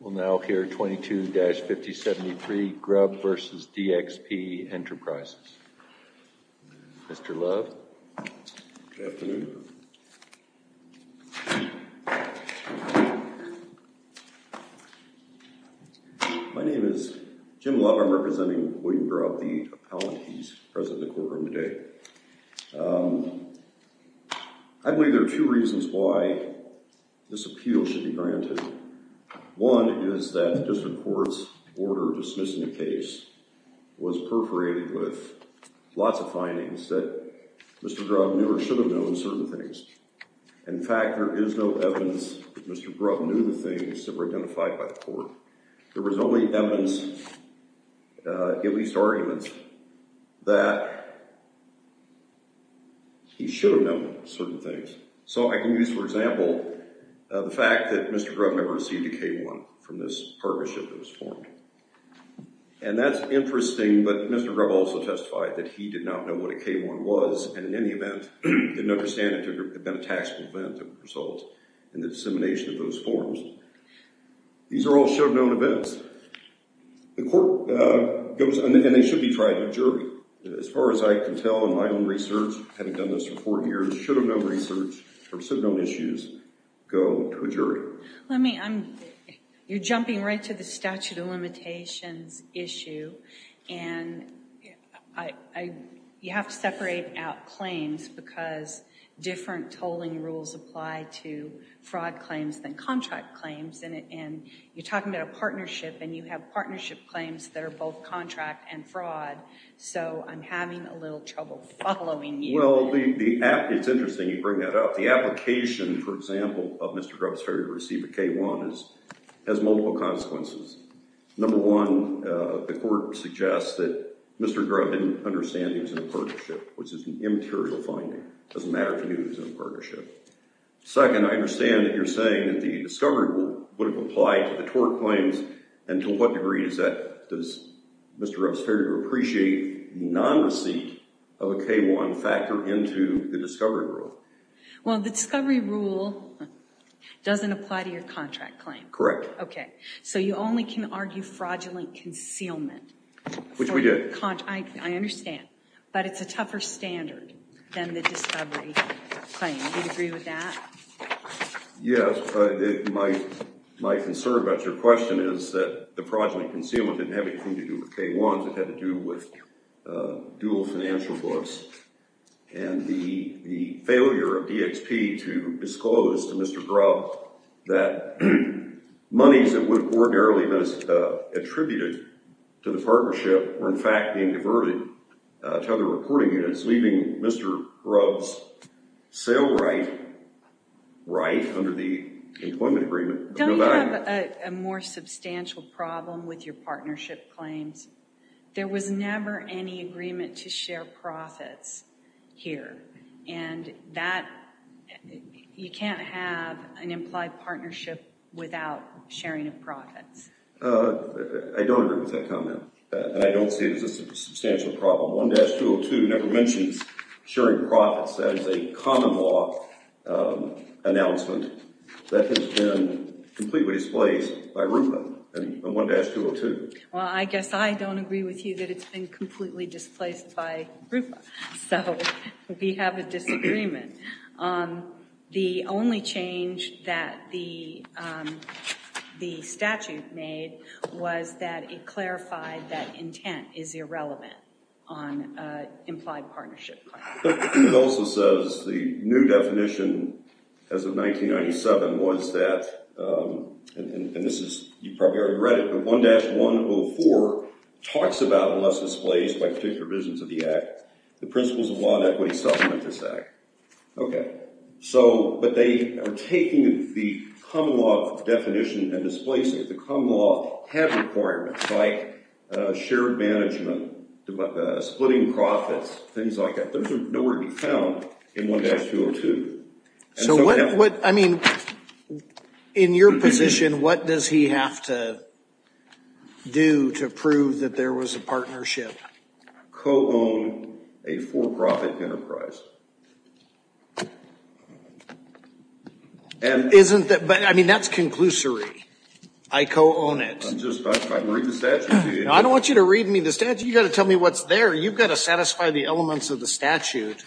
We'll now hear 22-5073 Grubb v. DXP Enterprises. Mr. Love. Good afternoon. My name is Jim Love. I'm representing William Grubb, the appellant. He's present in the courtroom today. I believe there are two reasons why this appeal should be granted. One is that the district court's order dismissing the case was perforated with lots of findings that Mr. Grubb knew or should have known certain things. In fact, there is no evidence that Mr. Grubb knew the things that were identified by the court. There was only evidence, at least arguments, that he should have known certain things. So I can use, for example, the fact that Mr. Grubb never received a K-1 from this partnership that was formed. And that's interesting, but Mr. Grubb also testified that he did not know what a K-1 was, and in any event, didn't understand it to have been a taxable event that would result in the dissemination of those forms. These are all should-have-known events. The court goes, and they should be tried in a jury. As far as I can tell in my own research, having done this for four years, should-have-known research or should-have-known issues go to a jury. I mean, you're jumping right to the statute of limitations issue, and you have to separate out claims because different tolling rules apply to fraud claims than contract claims. And you're talking about a partnership, and you have partnership claims that are both contract and fraud, so I'm having a little trouble following you. Well, it's interesting you bring that up. The application, for example, of Mr. Grubb's failure to receive a K-1 has multiple consequences. Number one, the court suggests that Mr. Grubb didn't understand he was in a partnership, which is an immaterial finding. It doesn't matter to me that he was in a partnership. Second, I understand that you're saying that the discovery rule wouldn't apply to the tort claims, and to what degree does Mr. Grubb's failure to appreciate non-receipt of a K-1 factor into the discovery rule? Well, the discovery rule doesn't apply to your contract claim. Correct. Okay. So you only can argue fraudulent concealment. Which we did. I understand. But it's a tougher standard than the discovery claim. Do you agree with that? Yes. My concern about your question is that the fraudulent concealment didn't have anything to do with K-1s. It had to do with dual financial books. And the failure of DXP to disclose to Mr. Grubb that monies that would have ordinarily been attributed to the partnership were in fact being diverted to other reporting units, leaving Mr. Grubb's sale right, right under the employment agreement, of no value. Don't you have a more substantial problem with your partnership claims? There was never any agreement to share profits here. And that you can't have an implied partnership without sharing of profits. I don't agree with that comment. And I don't see it as a substantial problem. 1-202 never mentions sharing profits. That is a common law announcement that has been completely displaced by RUPA and 1-202. Well, I guess I don't agree with you that it's been completely displaced by RUPA. So, we have a disagreement. The only change that the statute made was that it clarified that intent is irrelevant on implied partnership claims. It also says the new definition as of 1997 was that, and this is, you probably already read it, but 1-104 talks about unless displaced by particular provisions of the act, the principles of law and equity supplement this act. Okay. So, but they are taking the common law definition and displacing it. Common law had requirements like shared management, splitting profits, things like that. Those are nowhere to be found in 1-202. So, what, I mean, in your position, what does he have to do to prove that there was a partnership? Co-own a for-profit enterprise. Isn't that, I mean, that's conclusory. I co-own it. I'm just, I can read the statute to you. I don't want you to read me the statute. You've got to tell me what's there. You've got to satisfy the elements of the statute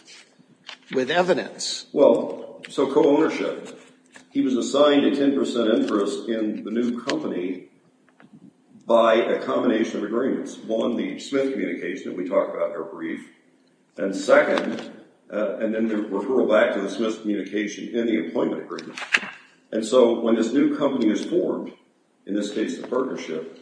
with evidence. Well, so co-ownership. He was assigned a 10% interest in the new company by a combination of agreements. One, the Smith communication that we talked about in our brief. And second, and then the referral back to the Smith communication in the employment agreement. And so when this new company is formed, in this case the partnership,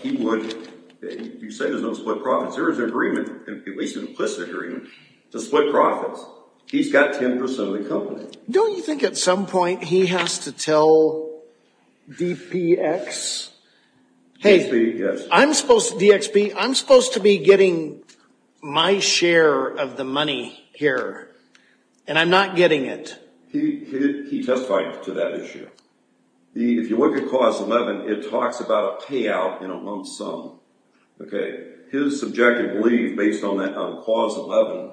he would, you say there's no split profits. There is an agreement, at least an implicit agreement, to split profits. He's got 10% of the company. Don't you think at some point he has to tell DPX, hey, I'm supposed to, DXB, I'm supposed to be getting my share of the money here, and I'm not getting it. He testified to that issue. If you look at Clause 11, it talks about a payout in a lump sum. His subjective belief based on that, on Clause 11,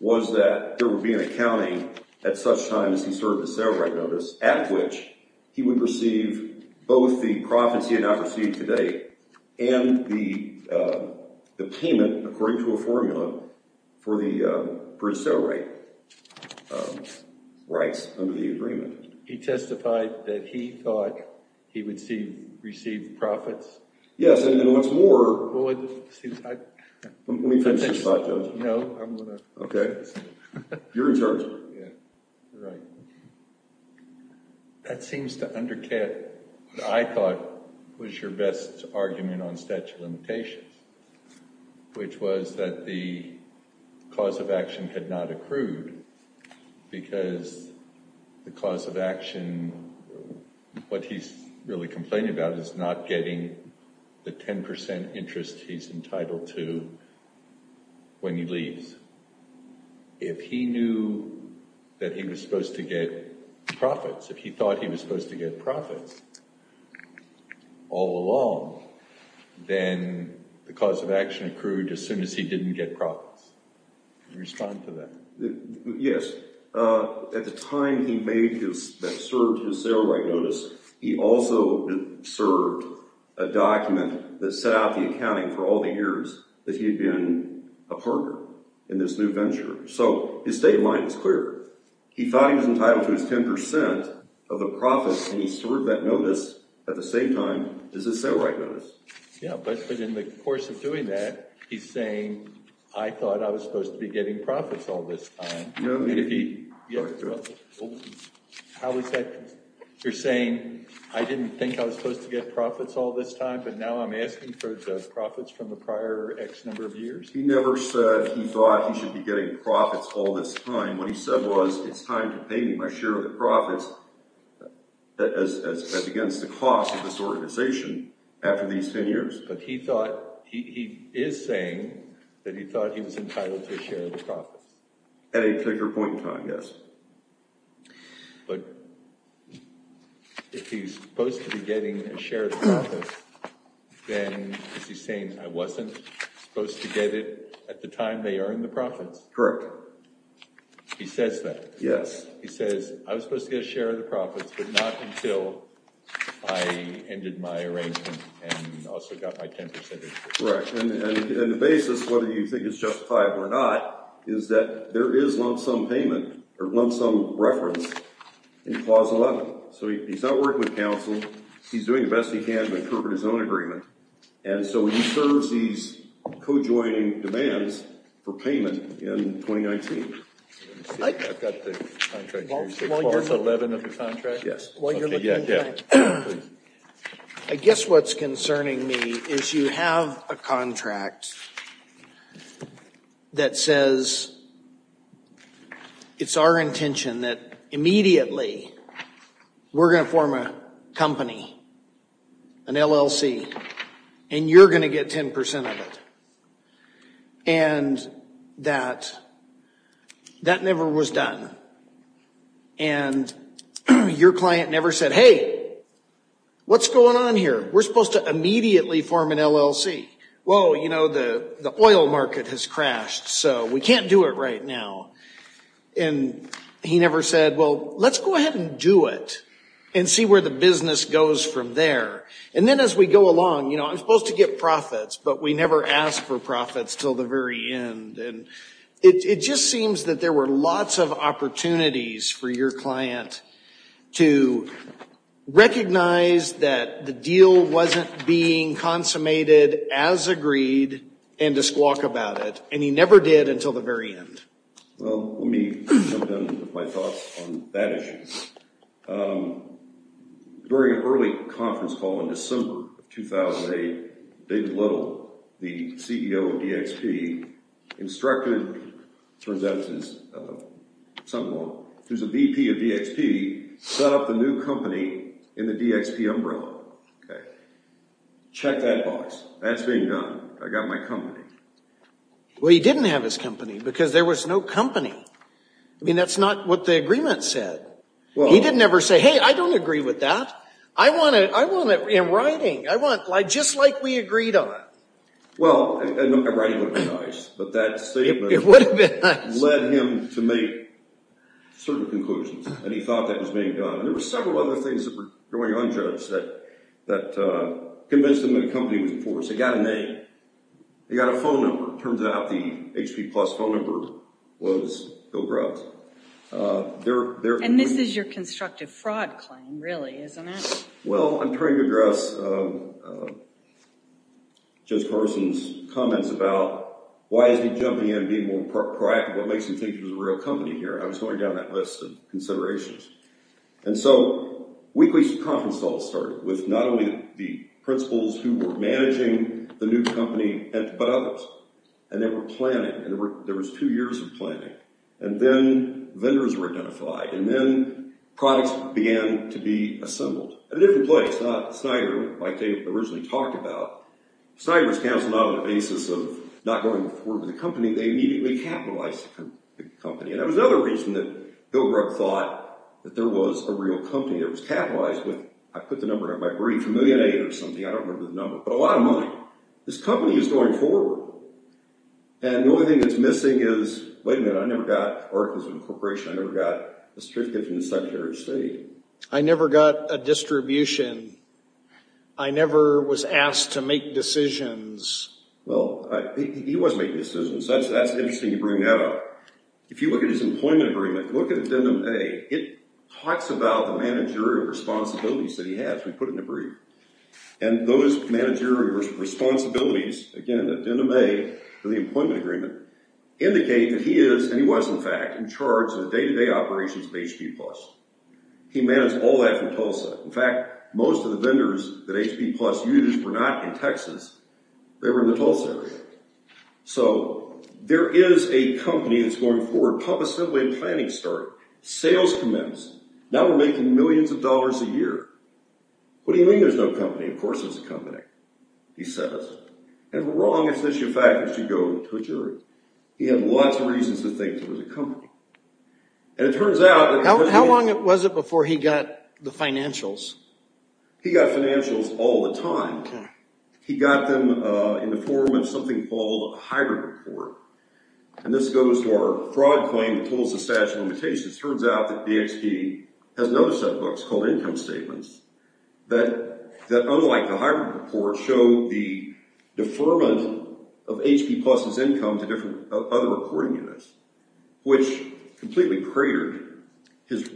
was that there would be an accounting at such time as he served his cerabrite notice, at which he would receive both the profits he had not received to date and the payment according to a formula for the bridge sale rate rights under the agreement. He testified that he thought he would receive profits. Yes, and what's more, let me finish this thought, Judge. No, I'm going to finish. You're in charge. You're right. That seems to undercut what I thought was your best argument on statute of limitations, which was that the cause of action had not accrued because the cause of action, what he's really complaining about is not getting the 10% interest he's entitled to when he leaves. If he knew that he was supposed to get profits, if he thought he was supposed to get profits all along, then the cause of action accrued as soon as he didn't get profits. Can you respond to that? Yes. At the time that he served his cerabrite notice, he also served a document that set out the accounting for all the years that he had been a partner in this new venture. So his state of mind is clear. He thought he was entitled to his 10% of the profits, and he served that notice at the same time as his cerabrite notice. Yes, but in the course of doing that, he's saying, I thought I was supposed to be getting profits all this time. How is that? You're saying, I didn't think I was supposed to get profits all this time, but now I'm asking for the profits from the prior X number of years? He never said he thought he should be getting profits all this time. What he said was, it's time to pay me my share of the profits as against the cost of this organization after these 10 years. But he thought, he is saying that he thought he was entitled to a share of the profits. At a particular point in time, yes. But if he's supposed to be getting a share of the profits, then is he saying I wasn't supposed to get it at the time they earned the profits? Correct. He says that? Yes. He says, I was supposed to get a share of the profits, but not until I ended my arrangement and also got my 10% of the profits. Correct. And the basis, whether you think it's justified or not, is that there is lump sum payment or lump sum reference in Clause 11. So he's not working with counsel. He's doing the best he can to interpret his own agreement. And so he serves these co-joining demands for payment in 2019. I've got the contract here. You said Clause 11 of the contract? Yes. I guess what's concerning me is you have a contract that says, it's our intention that immediately we're going to form a company, an LLC, and you're going to get 10% of it. And that never was done. And your client never said, hey, what's going on here? We're supposed to immediately form an LLC. Well, you know, the oil market has crashed, so we can't do it right now. And he never said, well, let's go ahead and do it and see where the business goes from there. And then as we go along, you know, I'm supposed to get profits, but we never ask for profits until the very end. And it just seems that there were lots of opportunities for your client to recognize that the deal wasn't being consummated as agreed and to squawk about it. And he never did until the very end. Well, let me jump in with my thoughts on that issue. During an early conference call in December of 2008, David Little, the CEO of DXP, instructed, it turns out it's his son-in-law, who's a VP of DXP, set up the new company in the DXP umbrella. Check that box. That's being done. I got my company. Well, he didn't have his company because there was no company. I mean, that's not what the agreement said. He didn't ever say, hey, I don't agree with that. I want it in writing. I want it just like we agreed on. Well, in writing would have been nice, but that statement led him to make certain conclusions, and he thought that was being done. And there were several other things that were going on, Joe, that convinced him that the company was forced. It got a name. It got a phone number. It turns out the HP Plus phone number was Bill Grubbs. And this is your constructive fraud claim, really, isn't it? Well, I'm trying to address Judge Carson's comments about why is he jumping in and being more proactive? What makes him think it was a real company here? I was going down that list of considerations. And so weekly conference calls started with not only the principals who were managing the new company but others, and they were planning, and there was two years of planning. And then vendors were identified, and then products began to be assembled at a different place, not Snyder like they originally talked about. Snyder was canceled not on the basis of not going forward with the company. They immediately capitalized the company. And that was another reason that Bill Grubbs thought that there was a real company that was capitalized. I put the number in my brief, a million eight or something. I don't remember the number, but a lot of money. This company is going forward. And the only thing that's missing is, wait a minute, I never got articles of incorporation. I never got a certificate from the Secretary of State. I never got a distribution. I never was asked to make decisions. Well, he was making decisions. That's interesting you bring that up. If you look at his employment agreement, look at Addendum A. It talks about the managerial responsibilities that he has. We put it in the brief. And those managerial responsibilities, again, Addendum A to the employment agreement, indicate that he is, and he was, in fact, in charge of the day-to-day operations of HP+. He managed all that from Tulsa. In fact, most of the vendors that HP Plus used were not in Texas. They were in the Tulsa area. So there is a company that's going forward. Pump assembly and planning started. Sales commenced. Now we're making millions of dollars a year. What do you mean there's no company? Of course there's a company, he says. And we're wrong as to the issue of fact that you go to a jury. He had lots of reasons to think there was a company. And it turns out that because he had— How long was it before he got the financials? He got financials all the time. He got them in the form of something called a hybrid report. And this goes to our fraud claim, the Tulsa statute of limitations. It turns out that DHP has another set of books called income statements that, unlike the hybrid report, show the deferment of HP Plus's income to other reporting units, which completely cratered his—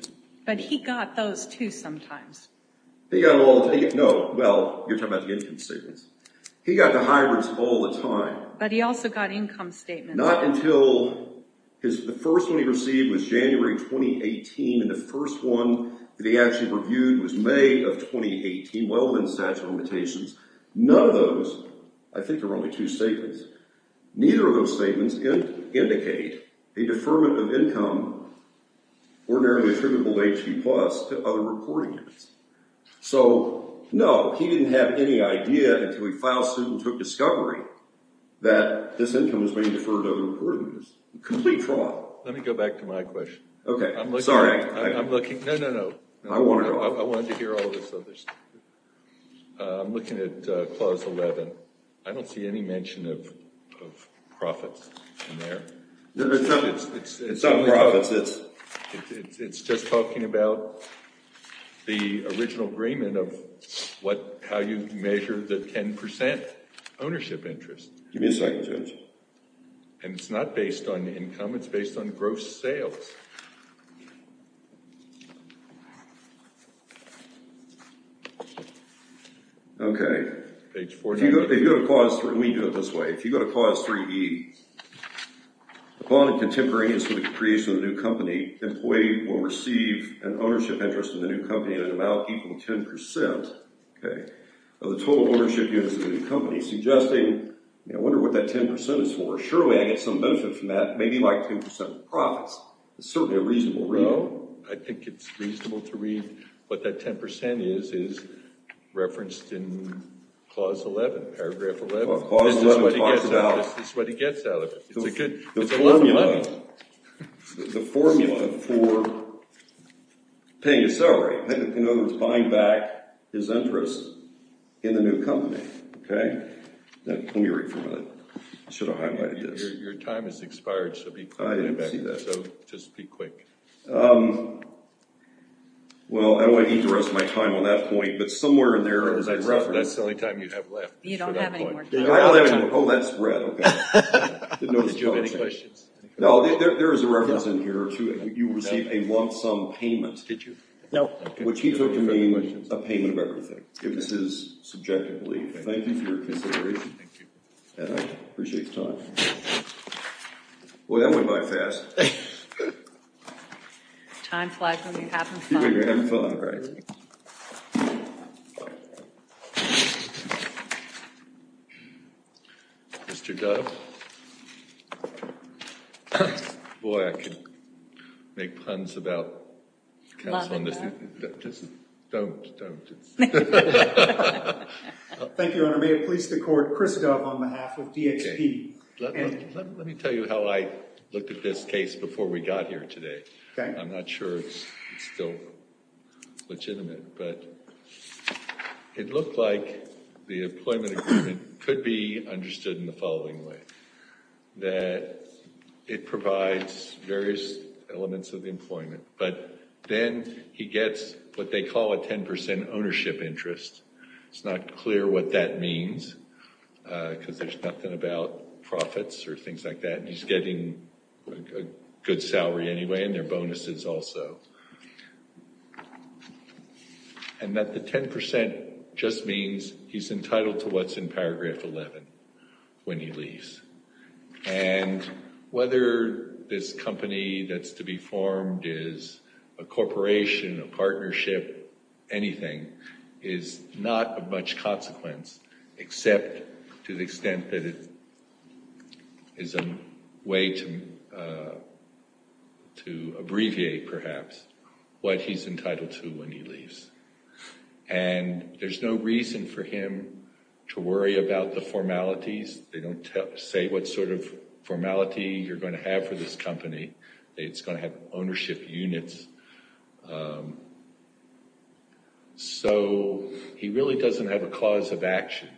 But he got those, too, sometimes. No, well, you're talking about the income statements. He got the hybrids all the time. But he also got income statements. Not until—the first one he received was January 2018, and the first one that he actually reviewed was May of 2018. Well, then statute of limitations. None of those—I think there were only two statements. Neither of those statements indicate a deferment of income ordinarily attributable to HP Plus to other reporting units. So, no, he didn't have any idea until he filed suit and took discovery that this income was being deferred to other reporting units. Complete fraud. Let me go back to my question. Okay. Sorry. I'm looking—no, no, no. I wanted to hear all of this other stuff. I'm looking at Clause 11. I don't see any mention of profits in there. It's not profits. It's just talking about the original agreement of how you measure the 10% ownership interest. Give me a second, Judge. And it's not based on income. It's based on gross sales. Okay. If you go to Clause 3—we do it this way. Okay. If you go to Clause 3E, upon a contemporary instance of the creation of a new company, employee will receive an ownership interest in the new company in an amount equal to 10%, okay, of the total ownership interest of the new company, suggesting—I wonder what that 10% is for. Surely I get some benefit from that, maybe like 10% of the profits. It's certainly a reasonable reading. No, I think it's reasonable to read what that 10% is is referenced in Clause 11, Paragraph 11. This is what he gets out of it. It's a lot of money. The formula for paying a salary in order to bind back his interest in the new company, okay? Let me read for a minute. I should have highlighted this. Your time has expired, so be quick. I didn't see that. So just be quick. Well, I don't want to eat the rest of my time on that point, but somewhere in there— That's the only time you have left. You don't have any more time. I don't have any more time. Oh, that's red, okay. Did you have any questions? No, there is a reference in here to you received a lump sum payment. Did you? No. Which he took to mean a payment of everything. It was his subjective belief. Thank you for your consideration. Thank you. And I appreciate your time. Boy, that went by fast. Time flies when you're having fun. Mr. Dove? Boy, I could make puns about counsel— Love and love. Don't, don't. Thank you, Your Honor. May it please the Court, Chris Dove on behalf of DXP. Let me tell you how I looked at this case before we got here today. I'm not sure it's still relevant. But it looked like the employment agreement could be understood in the following way. That it provides various elements of employment. But then he gets what they call a 10% ownership interest. It's not clear what that means because there's nothing about profits or things like that. He's getting a good salary anyway and there are bonuses also. And that the 10% just means he's entitled to what's in paragraph 11 when he leaves. And whether this company that's to be formed is a corporation, a partnership, anything, is not of much consequence except to the extent that it is a way to abbreviate, perhaps, what he's entitled to when he leaves. And there's no reason for him to worry about the formalities. They don't say what sort of formality you're going to have for this company. It's going to have ownership units. So he really doesn't have a cause of action.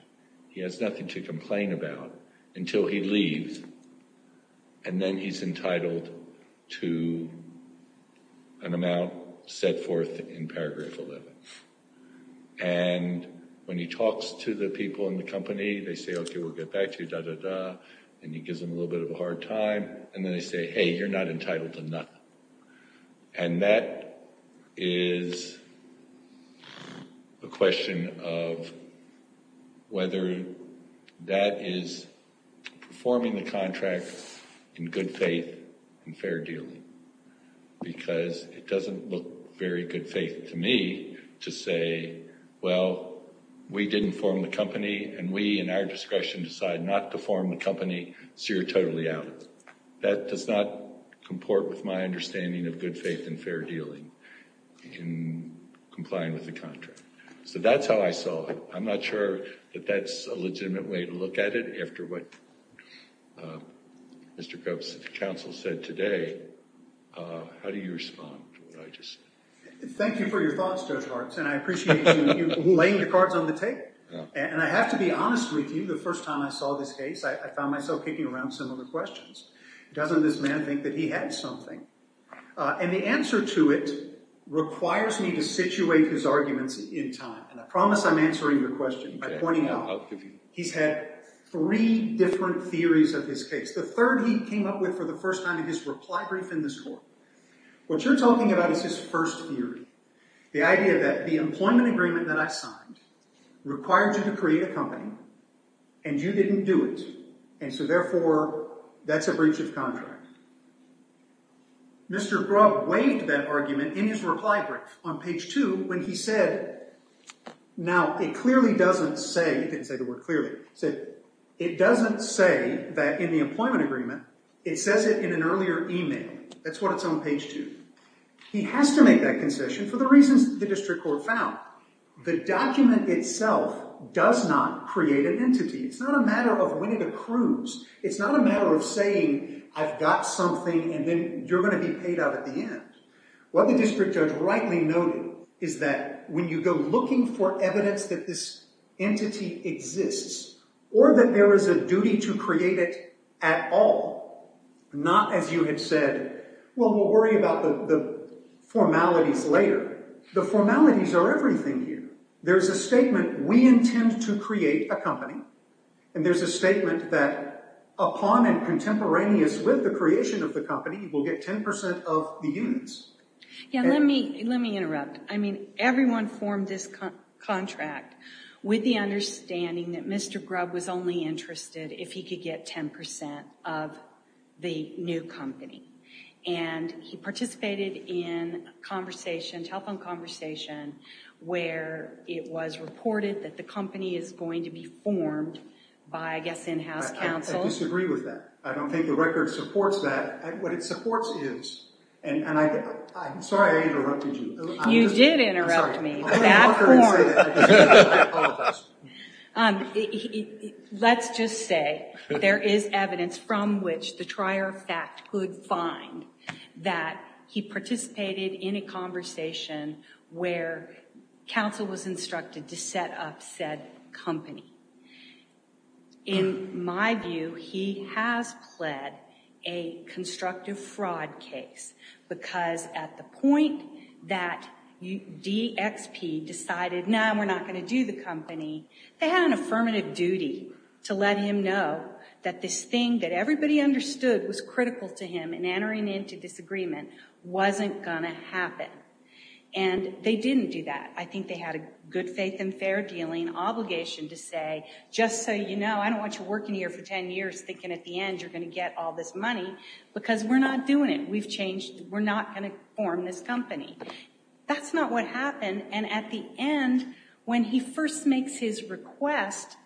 He has nothing to complain about until he leaves. And then he's entitled to an amount set forth in paragraph 11. And when he talks to the people in the company, they say, okay, we'll get back to you, da-da-da. And he gives them a little bit of a hard time. And then they say, hey, you're not entitled to nothing. And that is a question of whether that is performing the contract in good faith and fair dealing. Because it doesn't look very good faith to me to say, well, we didn't form the company, and we, in our discretion, decide not to form the company, so you're totally out. But that does not comport with my understanding of good faith and fair dealing in complying with the contract. So that's how I saw it. I'm not sure that that's a legitimate way to look at it. After what Mr. Cope's counsel said today, how do you respond to what I just said? Thank you for your thoughts, Judge Hartz. And I appreciate you laying the cards on the table. And I have to be honest with you. The first time I saw this case, I found myself kicking around similar questions. Doesn't this man think that he had something? And the answer to it requires me to situate his arguments in time. And I promise I'm answering your question by pointing out he's had three different theories of this case. The third he came up with for the first time in his reply brief in this court. What you're talking about is his first theory. The idea that the employment agreement that I signed required you to create a company, and you didn't do it. And so, therefore, that's a breach of contract. Mr. Grubb waived that argument in his reply brief on page two when he said, now, it clearly doesn't say—he didn't say the word clearly. He said, it doesn't say that in the employment agreement, it says it in an earlier email. That's what it's on page two. He has to make that concession for the reasons the district court found. The document itself does not create an entity. It's not a matter of when it accrues. It's not a matter of saying, I've got something, and then you're going to be paid out at the end. What the district judge rightly noted is that when you go looking for evidence that this entity exists or that there is a duty to create it at all, not as you had said, well, we'll worry about the formalities later. The formalities are everything here. There's a statement, we intend to create a company, and there's a statement that upon and contemporaneous with the creation of the company, we'll get 10% of the units. Let me interrupt. I mean, everyone formed this contract with the understanding that Mr. Grubb was only interested if he could get 10% of the new company, and he participated in a telephone conversation where it was reported that the company is going to be formed by, I guess, in-house counsel. I disagree with that. I don't think the record supports that. What it supports is, and I'm sorry I interrupted you. You did interrupt me. I apologize. Let's just say there is evidence from which the trier fact could find that he participated in a conversation where counsel was instructed to set up said company. In my view, he has pled a constructive fraud case because at the point that DXP decided, no, we're not going to do the company, they had an affirmative duty to let him know that this thing that everybody understood was critical to him in entering into this agreement wasn't going to happen. And they didn't do that. I think they had a good faith and fair dealing obligation to say, just so you know, I don't want you working here for 10 years thinking at the end you're going to get all this money because we're not doing it. We've changed. We're not going to form this company. That's not what happened. And at the end, when he first makes his request,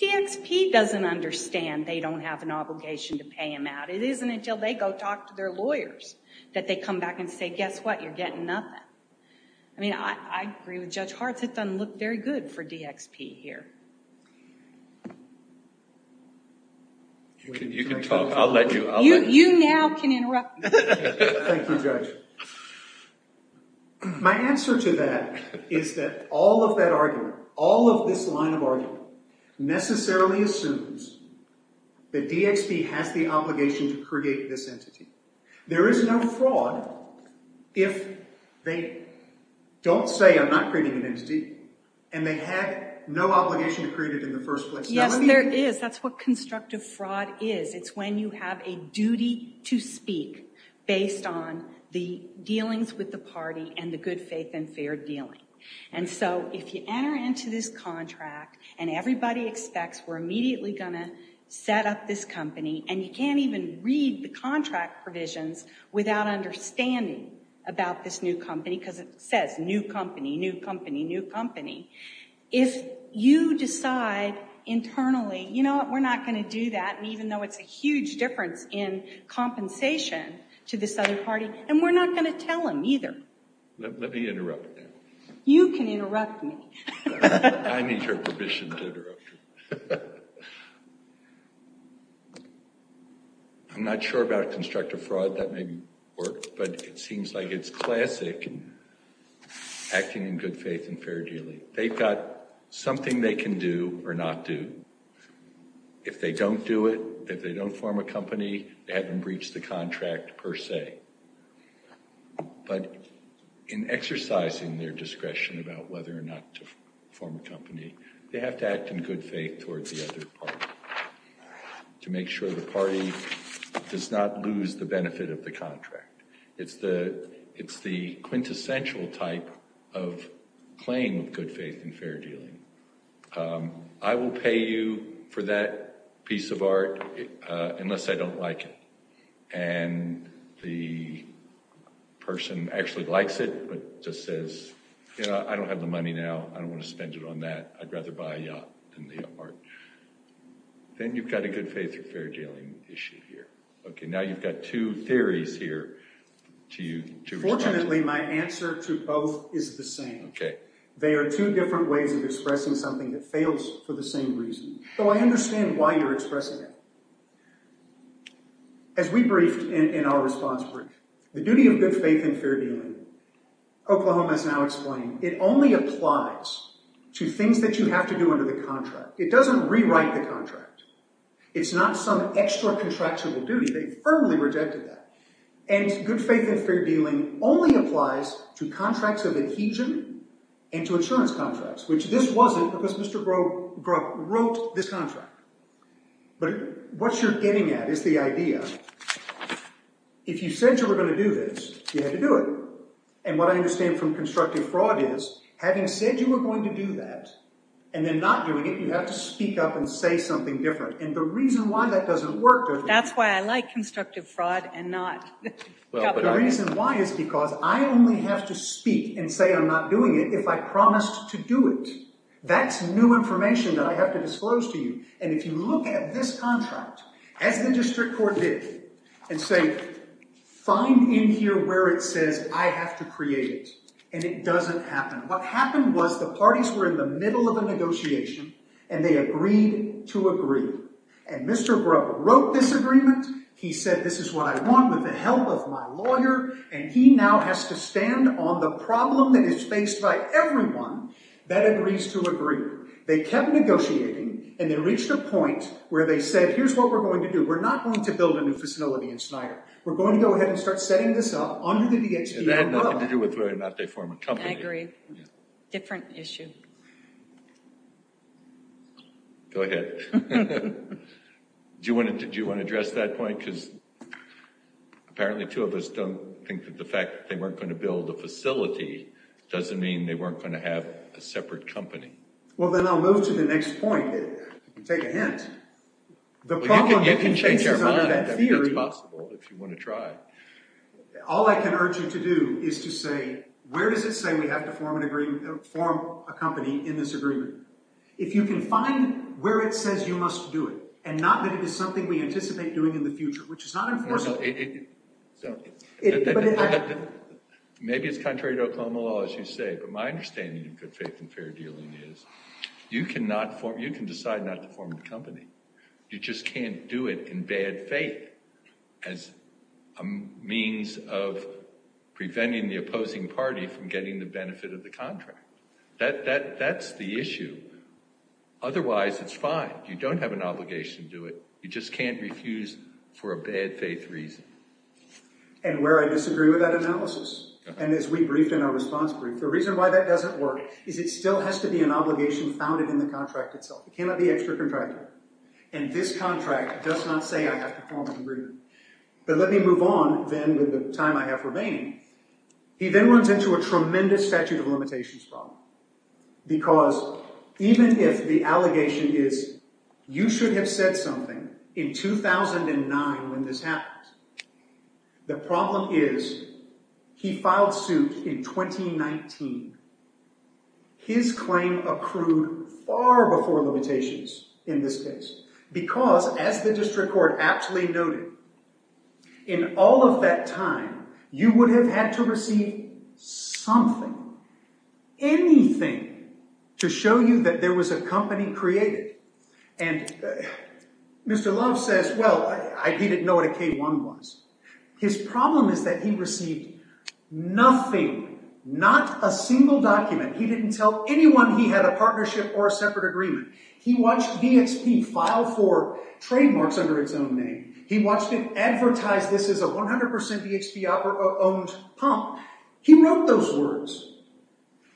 DXP doesn't understand they don't have an obligation to pay him out. It isn't until they go talk to their lawyers that they come back and say, guess what, you're getting nothing. I mean, I agree with Judge Hartz. It doesn't look very good for DXP here. You can talk. I'll let you. You now can interrupt. Thank you, Judge. My answer to that is that all of that argument, all of this line of argument necessarily assumes that DXP has the obligation to create this entity. There is no fraud if they don't say I'm not creating an entity and they had no obligation to create it in the first place. Yes, there is. That's what constructive fraud is. It's when you have a duty to speak based on the dealings with the party and the good faith and fair dealing. And so if you enter into this contract and everybody expects we're immediately going to set up this company and you can't even read the contract provisions without understanding about this new company because it says new company, new company, new company. If you decide internally, you know what, we're not going to do that. And even though it's a huge difference in compensation to this other party and we're not going to tell him either. Let me interrupt you. You can interrupt me. I need your permission to interrupt you. I'm not sure about constructive fraud. That may be work, but it seems like it's classic acting in good faith and fair dealing. They've got something they can do or not do. If they don't do it, if they don't form a company, they haven't breached the contract per se. But in exercising their discretion about whether or not to form a company, they have to act in good faith towards the other party to make sure the party does not lose the benefit of the contract. It's the quintessential type of claim of good faith and fair dealing. I will pay you for that piece of art unless I don't like it. And the person actually likes it, but just says, you know, I don't have the money now. I don't want to spend it on that. I'd rather buy a yacht than the art. Then you've got a good faith or fair dealing issue here. Okay, now you've got two theories here. Fortunately, my answer to both is the same. They are two different ways of expressing something that fails for the same reason. So I understand why you're expressing it. As we briefed in our response brief, the duty of good faith and fair dealing, Oklahoma has now explained, it only applies to things that you have to do under the contract. It doesn't rewrite the contract. It's not some extra contractual duty. They firmly rejected that. And good faith and fair dealing only applies to contracts of adhesion and to insurance contracts. Which this wasn't because Mr. Grubb wrote this contract. But what you're getting at is the idea, if you said you were going to do this, you had to do it. And what I understand from constructive fraud is, having said you were going to do that and then not doing it, you have to speak up and say something different. And the reason why that doesn't work. That's why I like constructive fraud and not copyright. The reason why is because I only have to speak and say I'm not doing it if I promised to do it. That's new information that I have to disclose to you. And if you look at this contract, as the district court did, and say, find in here where it says I have to create it, and it doesn't happen. What happened was the parties were in the middle of a negotiation and they agreed to agree. And Mr. Grubb wrote this agreement. He said, this is what I want with the help of my lawyer. And he now has to stand on the problem that is faced by everyone that agrees to agree. They kept negotiating and they reached a point where they said, here's what we're going to do. We're not going to build a new facility in Schneider. We're going to go ahead and start setting this up under the DHD. And that had nothing to do with whether or not they form a company. I agree. Different issue. Go ahead. Do you want to address that point? Because apparently two of us don't think that the fact that they weren't going to build a facility doesn't mean they weren't going to have a separate company. Well, then I'll move to the next point. Take a hint. You can change your mind. That's possible if you want to try. All I can urge you to do is to say, where does it say we have to form a company in this agreement? If you can find where it says you must do it and not that it is something we anticipate doing in the future, which is not enforceable. Maybe it's contrary to Oklahoma law, as you say, but my understanding of good faith and fair dealing is you can decide not to form a company. You just can't do it in bad faith as a means of preventing the opposing party from getting the benefit of the contract. That's the issue. Otherwise, it's fine. You don't have an obligation to do it. You just can't refuse for a bad faith reason. And where I disagree with that analysis, and as we briefed in our response group, the reason why that doesn't work is it still has to be an obligation founded in the contract itself. It cannot be extracontracted. And this contract does not say I have to form an agreement. But let me move on, then, with the time I have remaining. He then runs into a tremendous statute of limitations problem. Because even if the allegation is you should have said something in 2009 when this happened, the problem is he filed suit in 2019. His claim accrued far before limitations in this case. Because, as the district court aptly noted, in all of that time, you would have had to receive something, anything, to show you that there was a company created. And Mr. Love says, well, he didn't know what a K-1 was. His problem is that he received nothing. Not a single document. He didn't tell anyone he had a partnership or a separate agreement. He watched VXP file for trademarks under its own name. He watched it advertise this as a 100% VXP-owned pump. He wrote those words.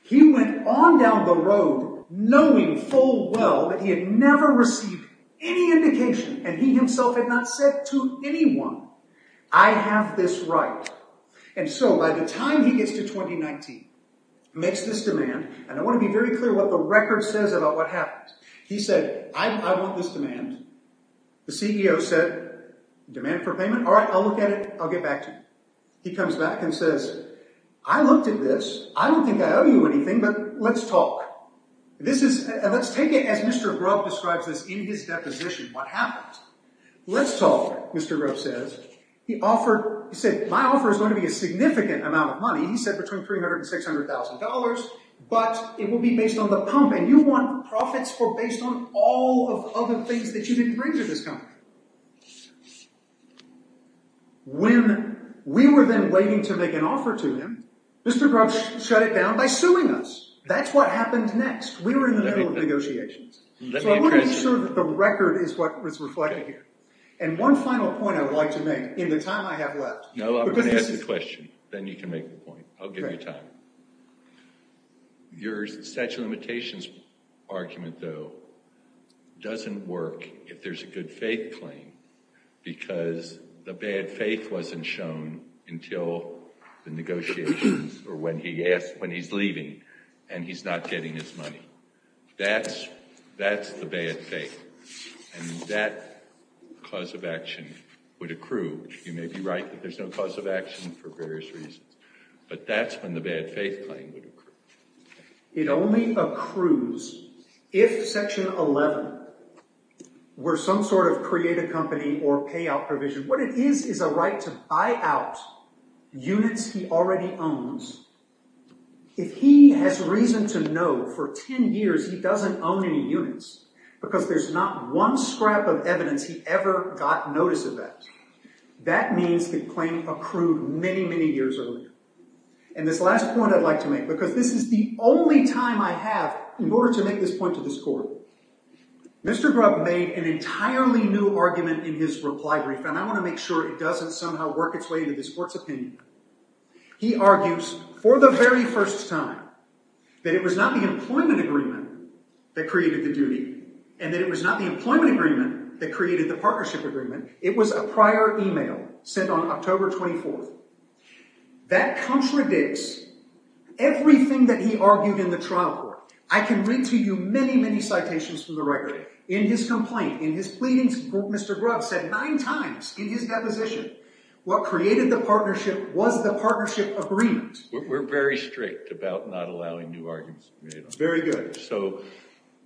He went on down the road knowing full well that he had never received any indication. And he himself had not said to anyone, I have this right. And so, by the time he gets to 2019, makes this demand, and I want to be very clear what the record says about what happened. He said, I want this demand. The CEO said, demand for payment? All right, I'll look at it. I'll get back to you. He comes back and says, I looked at this. I don't think I owe you anything, but let's talk. And let's take it as Mr. Grubb describes this in his deposition, what happened. Let's talk, Mr. Grubb says. He said, my offer is going to be a significant amount of money. He said between $300,000 and $600,000, but it will be based on the pump. And you want profits for based on all of the other things that you didn't bring to this company. When we were then waiting to make an offer to him, Mr. Grubb shut it down by suing us. That's what happened next. We were in the middle of negotiations. So I want to make sure that the record is what was reflected here. And one final point I would like to make in the time I have left. No, I'm going to ask the question. Then you can make the point. I'll give you time. Your statute of limitations argument, though, doesn't work if there's a good faith claim, because the bad faith wasn't shown until the negotiations or when he's leaving and he's not getting his money. That's the bad faith. And that cause of action would accrue. You may be right that there's no cause of action for various reasons. But that's when the bad faith claim would accrue. It only accrues if Section 11 were some sort of creative company or payout provision. What it is is a right to buy out units he already owns. If he has reason to know for 10 years he doesn't own any units, because there's not one scrap of evidence he ever got notice of that, that means the claim accrued many, many years earlier. And this last point I'd like to make, because this is the only time I have in order to make this point to this court. Mr. Grubb made an entirely new argument in his reply brief, and I want to make sure it doesn't somehow work its way into this court's opinion. He argues, for the very first time, that it was not the employment agreement that created the duty, and that it was not the employment agreement that created the partnership agreement. It was a prior email sent on October 24th. That contradicts everything that he argued in the trial court. I can read to you many, many citations from the record. In his complaint, in his pleadings, Mr. Grubb said nine times in his deposition, what created the partnership was the partnership agreement. We're very strict about not allowing new arguments. Very good. So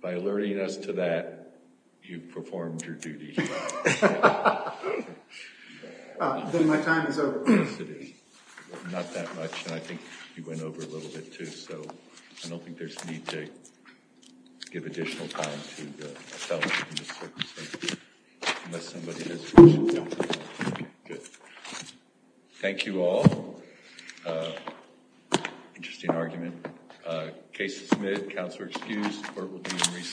by alerting us to that, you've performed your duty. Thank you. Then my time is over. Yes, it is. Not that much, and I think you went over a little bit, too, so I don't think there's need to give additional time to the felon in this circumstance. Unless somebody has a question. Good. Thank you all. Interesting argument. Case is admitted. Counselor excused. Court will be in recess.